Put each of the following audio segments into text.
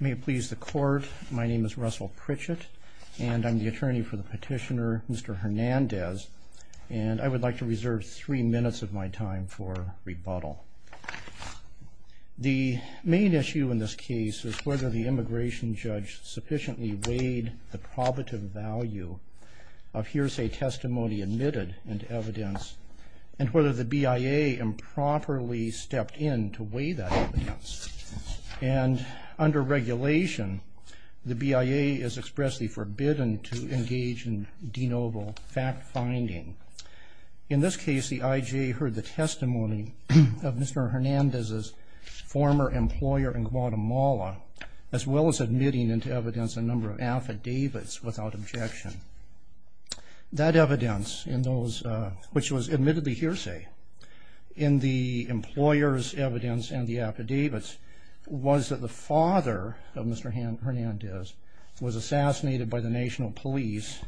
May it please the court, my name is Russell Pritchett and I'm the attorney for the petitioner Mr. Hernandez and I would like to reserve three minutes of my time for rebuttal. The main issue in this case is whether the immigration judge sufficiently weighed the probative value of hearsay testimony admitted and whether the BIA improperly stepped in to weigh that evidence and under regulation the BIA is expressly forbidden to engage in denoble fact finding. In this case the IJ heard the testimony of Mr. Hernandez's former employer in Guatemala as well as admitting into evidence a number of which was admittedly hearsay in the employer's evidence and the affidavits was that the father of Mr. Hernandez was assassinated by the National Police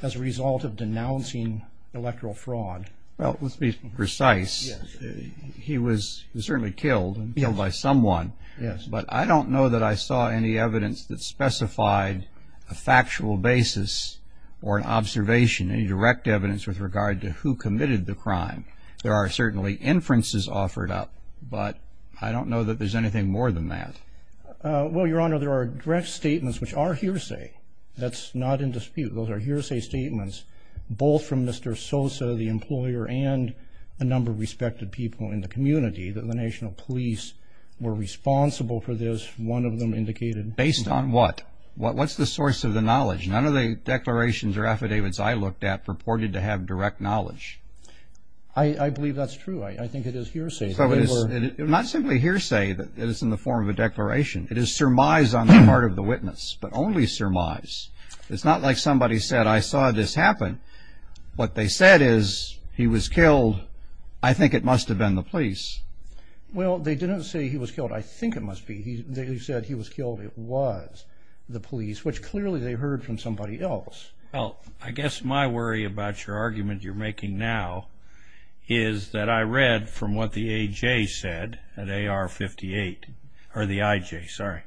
as a result of denouncing electoral fraud. Well let's be precise he was certainly killed and killed by someone yes but I don't know that I saw any evidence that specified a factual basis or an observation any direct evidence with regard to who committed the crime there are certainly inferences offered up but I don't know that there's anything more than that. Well your honor there are direct statements which are hearsay that's not in dispute those are hearsay statements both from Mr. Sosa the employer and a number of respected people in the community that the National Police were responsible for this one of them indicated. Based on what what's the source of the knowledge none of the declarations or affidavits I looked at purported to have direct knowledge. I believe that's true I think it is hearsay. Not simply hearsay that it is in the form of a declaration it is surmise on the part of the witness but only surmise it's not like somebody said I saw this happen what they said is he was killed I think it must have been the police. Well they didn't say he was killed I think it must be he said he was killed it was the else. Well I guess my worry about your argument you're making now is that I read from what the AJ said at AR 58 or the IJ sorry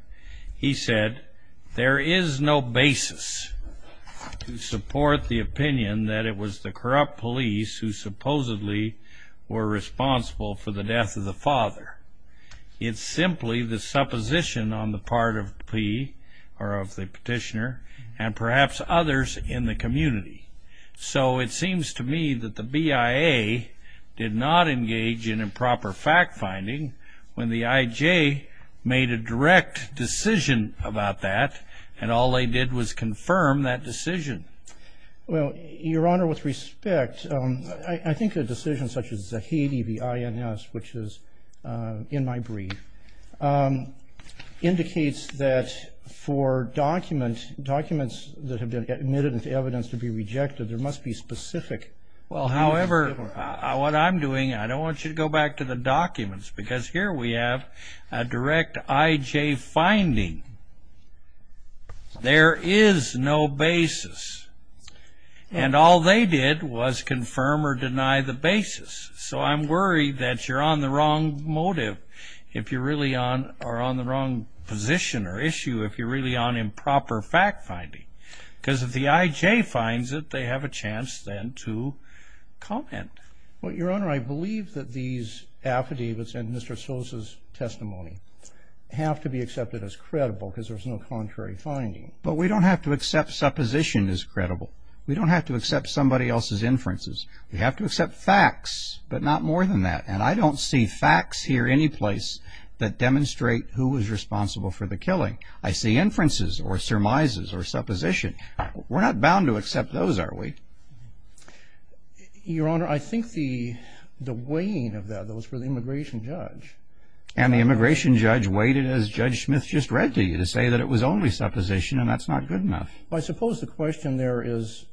he said there is no basis to support the opinion that it was the corrupt police who supposedly were responsible for the death of the father it's simply the supposition on the part of P or of the petitioner and perhaps others in the community so it seems to me that the BIA did not engage in improper fact-finding when the IJ made a direct decision about that and all they did was confirm that decision. Well your honor with respect I think a decision such as a Zahidi the INS which is in my that for documents documents that have been admitted into evidence to be rejected there must be specific. Well however what I'm doing I don't want you to go back to the documents because here we have a direct IJ finding there is no basis and all they did was confirm or deny the basis so I'm worried that you're on the wrong motive if you're really on or on the wrong position or issue if you're really on improper fact-finding because if the IJ finds it they have a chance then to comment. Well your honor I believe that these affidavits and Mr. Sosa's testimony have to be accepted as credible because there's no contrary finding. But we don't have to accept supposition as credible we don't have to accept somebody else's inferences we have to accept facts but not more than that and I don't see facts here anyplace that demonstrate who was responsible for the killing. I see inferences or surmises or supposition we're not bound to accept those are we? Your honor I think the the weighing of that those for the immigration judge. And the immigration judge weighted as Judge Smith just read to you to say that it was only supposition and that's not good enough. I suppose the question there is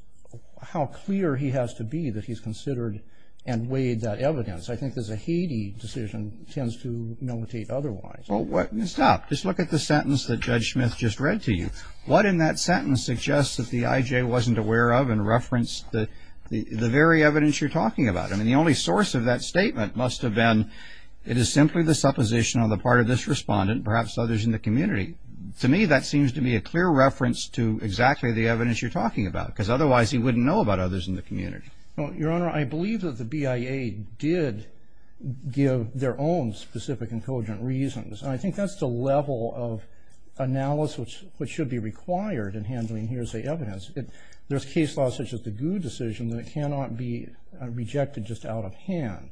how clear he has to be that he's considered and weighed that evidence. I think there's a heady decision tends to militate otherwise. Well what stop just look at the sentence that Judge Smith just read to you. What in that sentence suggests that the IJ wasn't aware of and referenced the the very evidence you're talking about. I mean the only source of that statement must have been it is simply the supposition on the part of this respondent perhaps others in the community. To me that seems to be a clear reference to exactly the evidence you're talking about because otherwise he wouldn't know about others in the community. Well your honor I believe that the BIA did give their own specific and cogent reasons. I think that's the level of analysis which should be required in handling hearsay evidence. If there's case law such as the GU decision that it cannot be rejected just out of hand.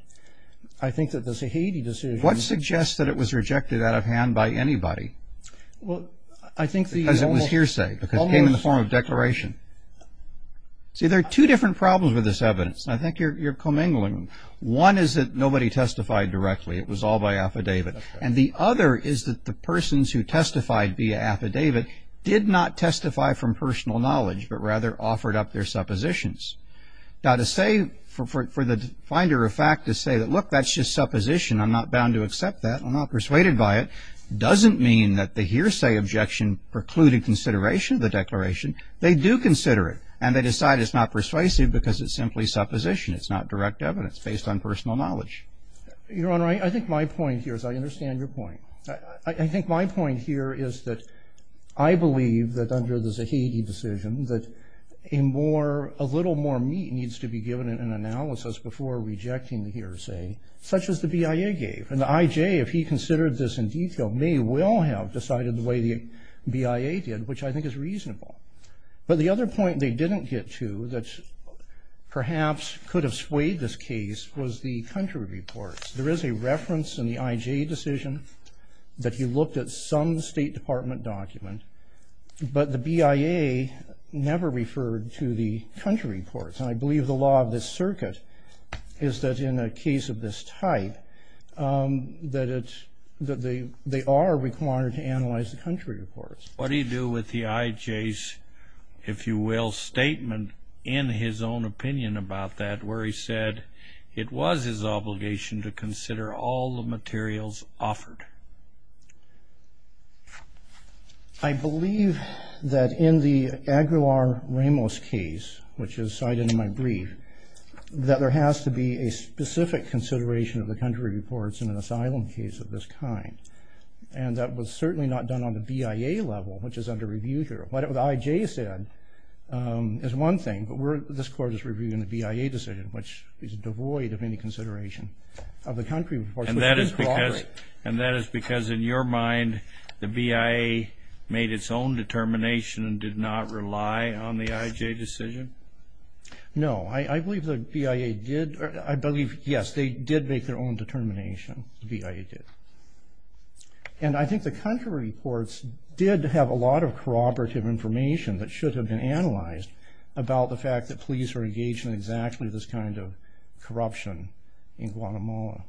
I think that there's a heady decision. What suggests that it was rejected out of hand by anybody? Well I think because it was hearsay because it came in the form of See there are two different problems with this evidence. I think you're commingling. One is that nobody testified directly. It was all by affidavit. And the other is that the persons who testified via affidavit did not testify from personal knowledge but rather offered up their suppositions. Now to say for the finder of fact to say that look that's just supposition. I'm not bound to accept that. I'm not persuaded by it doesn't mean that the hearsay objection precluded consideration of the declaration. They do consider it and they decide it's not persuasive because it's simply supposition. It's not direct evidence based on personal knowledge. Your Honor I think my point here is I understand your point. I think my point here is that I believe that under the Zahedi decision that a more a little more meat needs to be given in an analysis before rejecting the hearsay such as the BIA gave. And the IJ if he considered this in have decided the way the BIA did which I think is reasonable. But the other point they didn't get to that perhaps could have swayed this case was the country reports. There is a reference in the IJ decision that he looked at some State Department document but the BIA never referred to the country reports. And I believe the law of this circuit is that in a case of this type that it's that they they are required to analyze the country reports. What do you do with the IJ's if you will statement in his own opinion about that where he said it was his obligation to consider all the materials offered? I believe that in the Aguilar-Ramos case which is cited in my brief that there has to be a specific consideration of the country reports in an asylum case of this kind. And that was certainly not done on the BIA level which is under review here. What the IJ said is one thing but we're this court is reviewing the BIA decision which is devoid of any consideration of the country. And that is because and that is because in your mind the BIA made its own determination and did not rely on the IJ decision? No, I believe the BIA did. I believe yes they did make their own determination. The BIA did. And I think the country reports did have a lot of corroborative information that should have been analyzed about the fact that police are engaged in exactly this kind of corruption in Guatemala.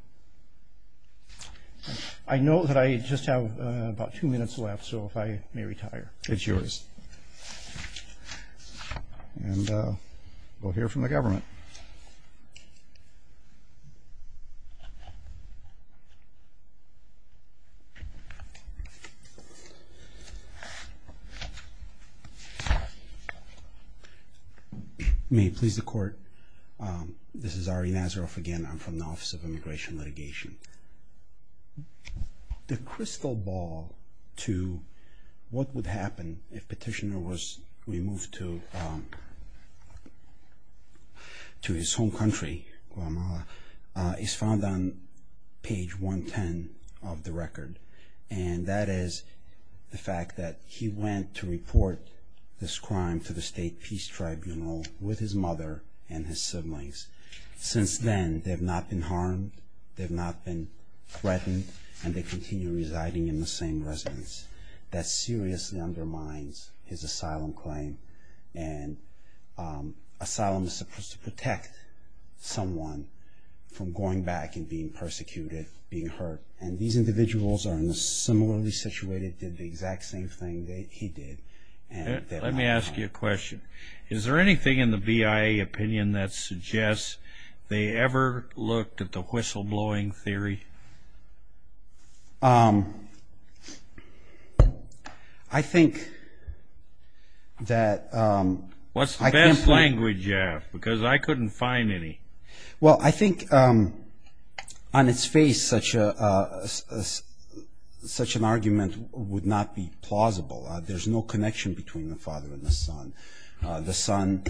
I know that I just have about two minutes left so if I may retire. It's yours and we'll hear from the government. May it please the court, this is Ari Nazaroff again I'm from the Office of Crystal Ball to what would happen if petitioner was removed to his home country is found on page 110 of the record. And that is the fact that he went to report this crime to the state peace tribunal with his mother and his siblings. Since then they've not been harmed, they've not been threatened, and they continue residing in the same residence. That seriously undermines his asylum claim and asylum is supposed to protect someone from going back and being persecuted, being hurt. And these individuals are in a similarly situated did the exact same thing that he did. Let me ask you a question, is there anything in the BIA opinion that suggests they ever looked at the whistleblowing theory? I think that... What's the best language you have because I couldn't find any. Well I think on its face such an argument would not be plausible. There's no connection between the father and the son. The son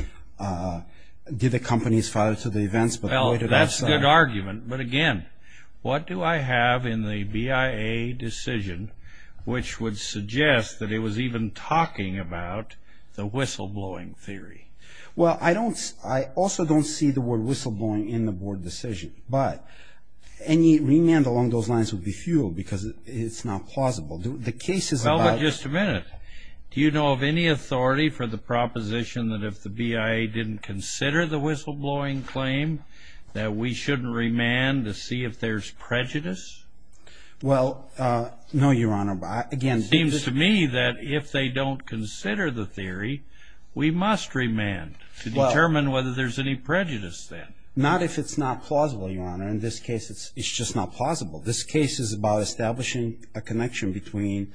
did accompany his father to the events but... Well that's a good argument but again what do I have in the BIA decision which would suggest that it was even talking about the whistleblowing theory? Well I also don't see the word whistleblowing in the board decision but any remand along those lines would be futile because it's not plausible. The case is about... Well but just a minute, do you know of any authority for the proposition that if the BIA didn't consider the whistleblowing claim that we shouldn't remand to see if there's prejudice? Well no your honor but again... It seems to me that if they don't consider the theory we must remand to determine whether there's any prejudice then. Not if it's not plausible your honor. In this case it's just not plausible. This case is about establishing a connection between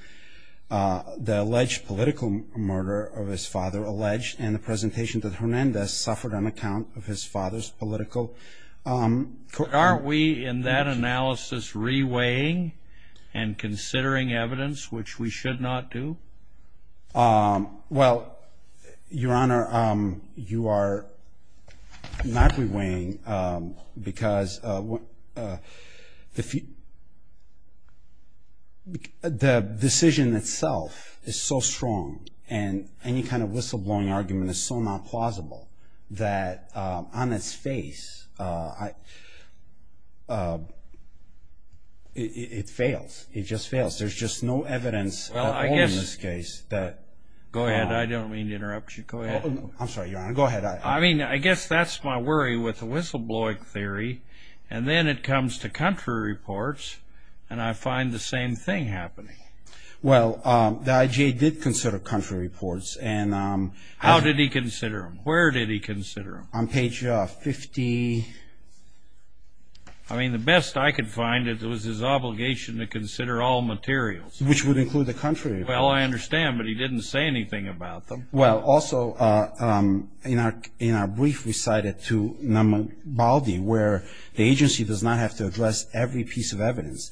the alleged political murder of his father alleged and the presentation that Hernandez suffered on account of his father's political... Aren't we in that analysis re-weighing and considering evidence which we should not do? Well your honor you are not re-weighing because the the decision itself is so strong and any kind of whistleblowing argument is so not plausible that on its face it fails. It just fails. There's just no evidence at all in this case that... Go ahead I don't mean to interrupt you. Go ahead. I'm sorry your honor, go ahead. I mean I guess that's my worry with the reports and I find the same thing happening. Well the IGA did consider country reports and... How did he consider them? Where did he consider them? On page 50. I mean the best I could find it was his obligation to consider all materials. Which would include the country reports. Well I understand but he didn't say anything about them. Well also in our brief we cited to Namibaldi where the evidence.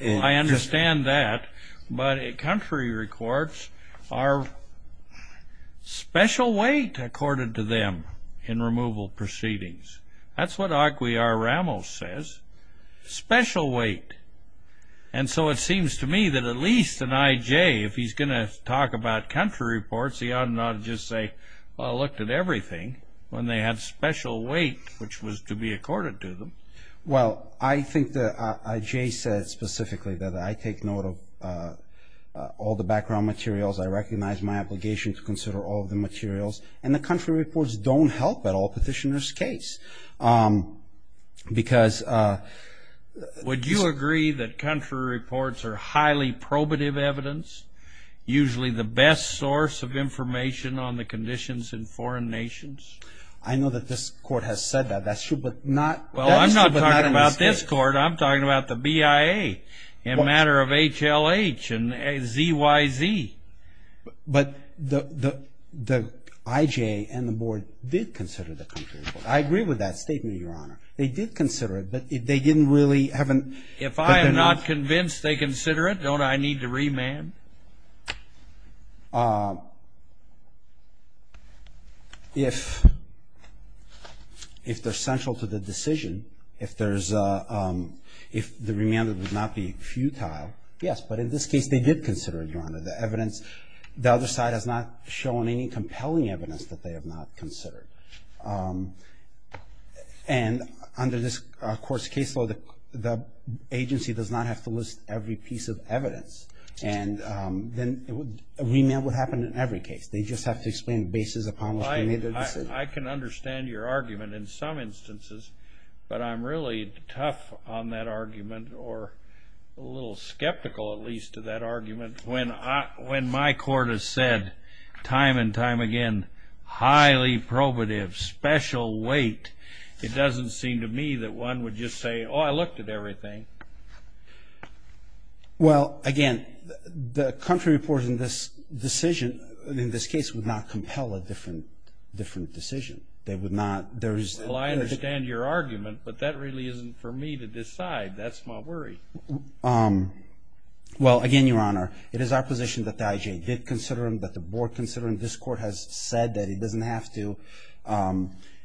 I understand that but country reports are special weight accorded to them in removal proceedings. That's what Aguiar Ramos says. Special weight. And so it seems to me that at least an IJ if he's gonna talk about country reports he ought not just say well I looked at everything when they had special weight which was to be accorded to them. Well I think that IJ said specifically that I take note of all the background materials. I recognize my obligation to consider all of the materials and the country reports don't help at all petitioner's case. Because... Would you agree that country reports are highly probative evidence? Usually the best source of information on the conditions in foreign nations. I know that this court has said that. That's true but not... Well I'm not talking about this court. I'm talking about the BIA in matter of HLH and ZYZ. But the IJ and the board did consider the country reports. I agree with that statement your honor. They did consider it but they didn't really haven't... If I am not convinced they consider it don't I need to remand? If they're central to the decision if there's a if the remand would not be futile yes but in this case they did consider it your honor. The evidence the other side has not shown any compelling evidence that they have not considered. And under this court's case law the agency does not have to list every piece of evidence and then a remand would happen in every case. They just have to explain the basis upon which they made their decision. I can understand your argument in some instances but I'm really tough on that argument or a little skeptical at least of that weight. It doesn't seem to me that one would just say oh I looked at everything. Well again the country report in this decision in this case would not compel a different different decision. They would not there's... Well I understand your argument but that really isn't for me to decide. That's my worry. Well again your honor it is our position that the IJ did consider them that the board considering this court has said that it doesn't have to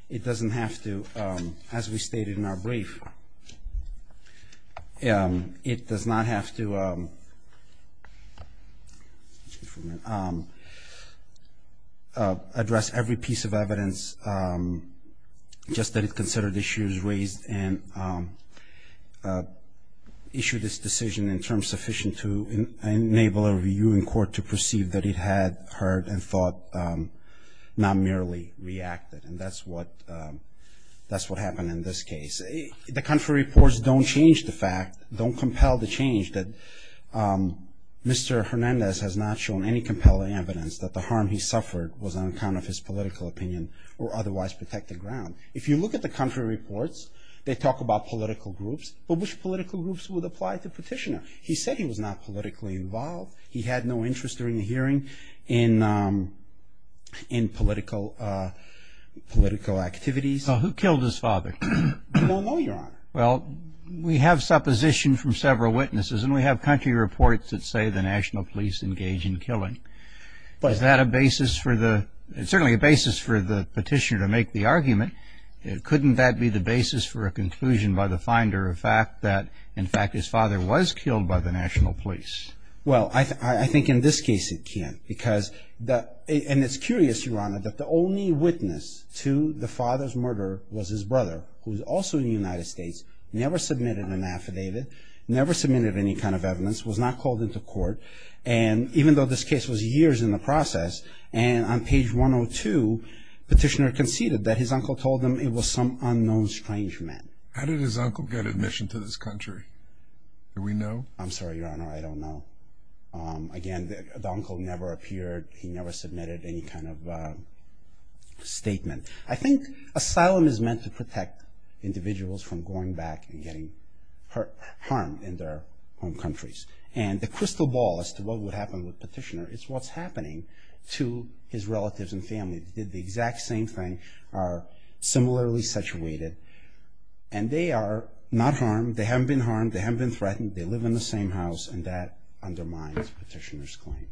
it doesn't have to as we stated in our brief it does not have to address every piece of evidence just that it considered issues raised and issued this decision in terms sufficient to enable a review in court to perceive that it had heard and thought not merely reacted and that's what that's what happened in this case. The country reports don't change the fact don't compel the change that Mr. Hernandez has not shown any compelling evidence that the harm he suffered was on account of his political opinion or otherwise protected ground. If you look at the country reports they talk about political groups but which political groups would apply to Petitioner? He said he was not politically involved he had no interest during the hearing in in political political activities. Who killed his father? We don't know your honor. Well we have supposition from several witnesses and we have country reports that say the National Police engage in killing but is that a basis for the certainly a basis for the petitioner to make the argument it couldn't that be the basis for a conclusion by the finder fact that in fact his father was killed by the National Police. Well I think in this case it can't because that and it's curious your honor that the only witness to the father's murder was his brother who was also in the United States never submitted an affidavit never submitted any kind of evidence was not called into court and even though this case was years in the process and on page 102 Petitioner conceded that his uncle told him it was some unknown strange man. How did his uncle get admission to this country? Do we know? I'm sorry your honor I don't know again the uncle never appeared he never submitted any kind of statement. I think asylum is meant to protect individuals from going back and getting hurt harmed in their home countries and the crystal ball as to what would happen with Petitioner it's what's happening to his relatives and they are not harmed they haven't been harmed they haven't been threatened they live in the same house and that undermines Petitioner's claim.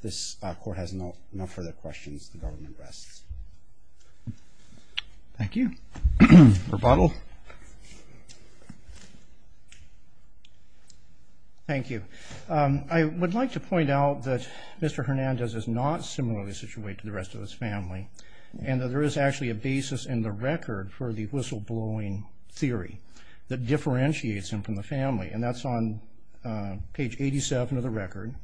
This court has no further questions the government rests. Thank you. Rebuttal. Thank you I would like to point out that Mr. Hernandez is not similarly situated to the rest of his family and that there is actually a basis in the record for the that differentiates him from the family and that's on page 87 of the record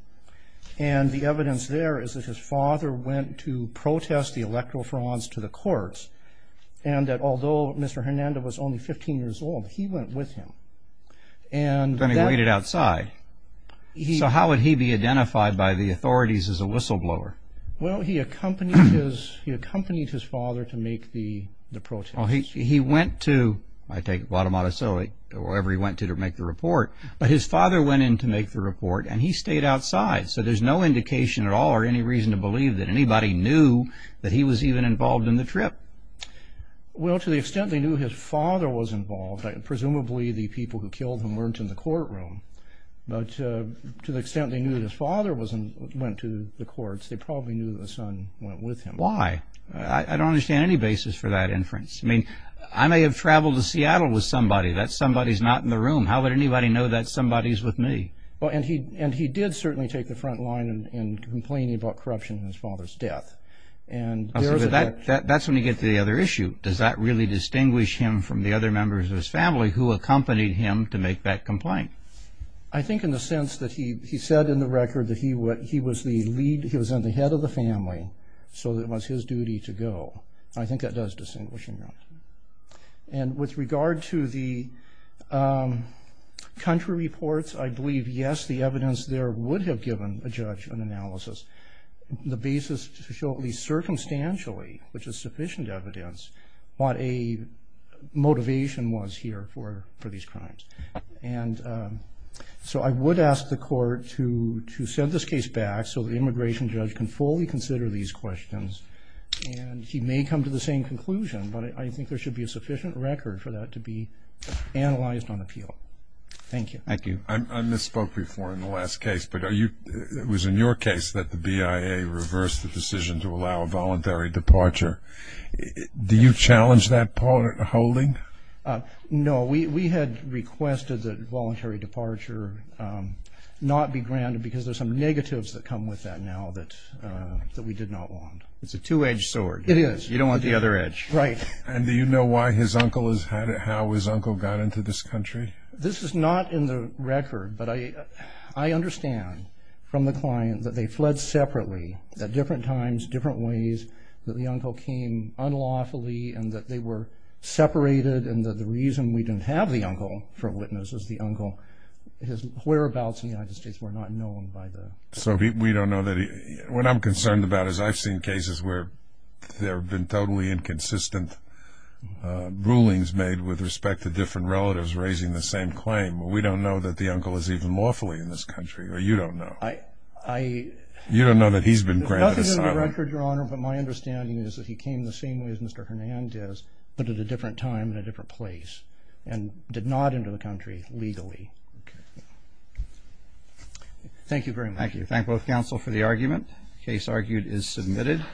and the evidence there is that his father went to protest the electrophorons to the courts and that although Mr. Hernandez was only 15 years old he went with him and then he waited outside. So how would he be identified by the authorities as a whistleblower? Well he accompanied his father to make the the protest. He went to I take Guatemala so it or wherever he went to to make the report but his father went in to make the report and he stayed outside so there's no indication at all or any reason to believe that anybody knew that he was even involved in the trip. Well to the extent they knew his father was involved presumably the people who killed him weren't in the courtroom but to the extent they knew his father wasn't went to the courts they probably knew the son went with him. Why? I don't understand any basis for that inference. I mean I may have traveled to Seattle with somebody that somebody's not in the room how would anybody know that somebody's with me? Well and he and he did certainly take the front line in complaining about corruption in his father's death. That's when you get to the other issue. Does that really distinguish him from the other members of his family who accompanied him to make that complaint? I think in the sense that he he said in the record that he was the lead he was in the head of the family so it was his duty to go. I think that does distinguish him. And with regard to the country reports I believe yes the evidence there would have given a judge an analysis the basis to show at least circumstantially which is sufficient evidence what a motivation was here for for these crimes. And so I would ask the court to to send this case back so the immigration judge can fully consider these questions and he may come to the same conclusion but I think there should be a sufficient record for that to be analyzed on appeal. Thank you. Thank you. I misspoke before in the last case but are you it was in your case that the BIA reversed the decision to allow a No we we had requested that voluntary departure not be granted because there's some negatives that come with that now that that we did not want. It's a two-edged sword. It is. You don't want the other edge. Right. And do you know why his uncle is how his uncle got into this country? This is not in the record but I I understand from the client that they fled separately at different times different ways that the uncle came unlawfully and that they were separated and that the reason we didn't have the uncle for witness is the uncle his whereabouts in the United States were not known by the. So we don't know that what I'm concerned about is I've seen cases where there have been totally inconsistent rulings made with respect to different relatives raising the same claim. We don't know that the uncle is even lawfully in this country or you don't know. I I. You don't know that he's been granted asylum. Nothing in the record your honor but my understanding is that he came the same way as Mr. Hernandez but at a different time in a different place and did not enter the country legally. Thank you very much. Thank you. Thank both counsel for the argument. Case argued is submitted.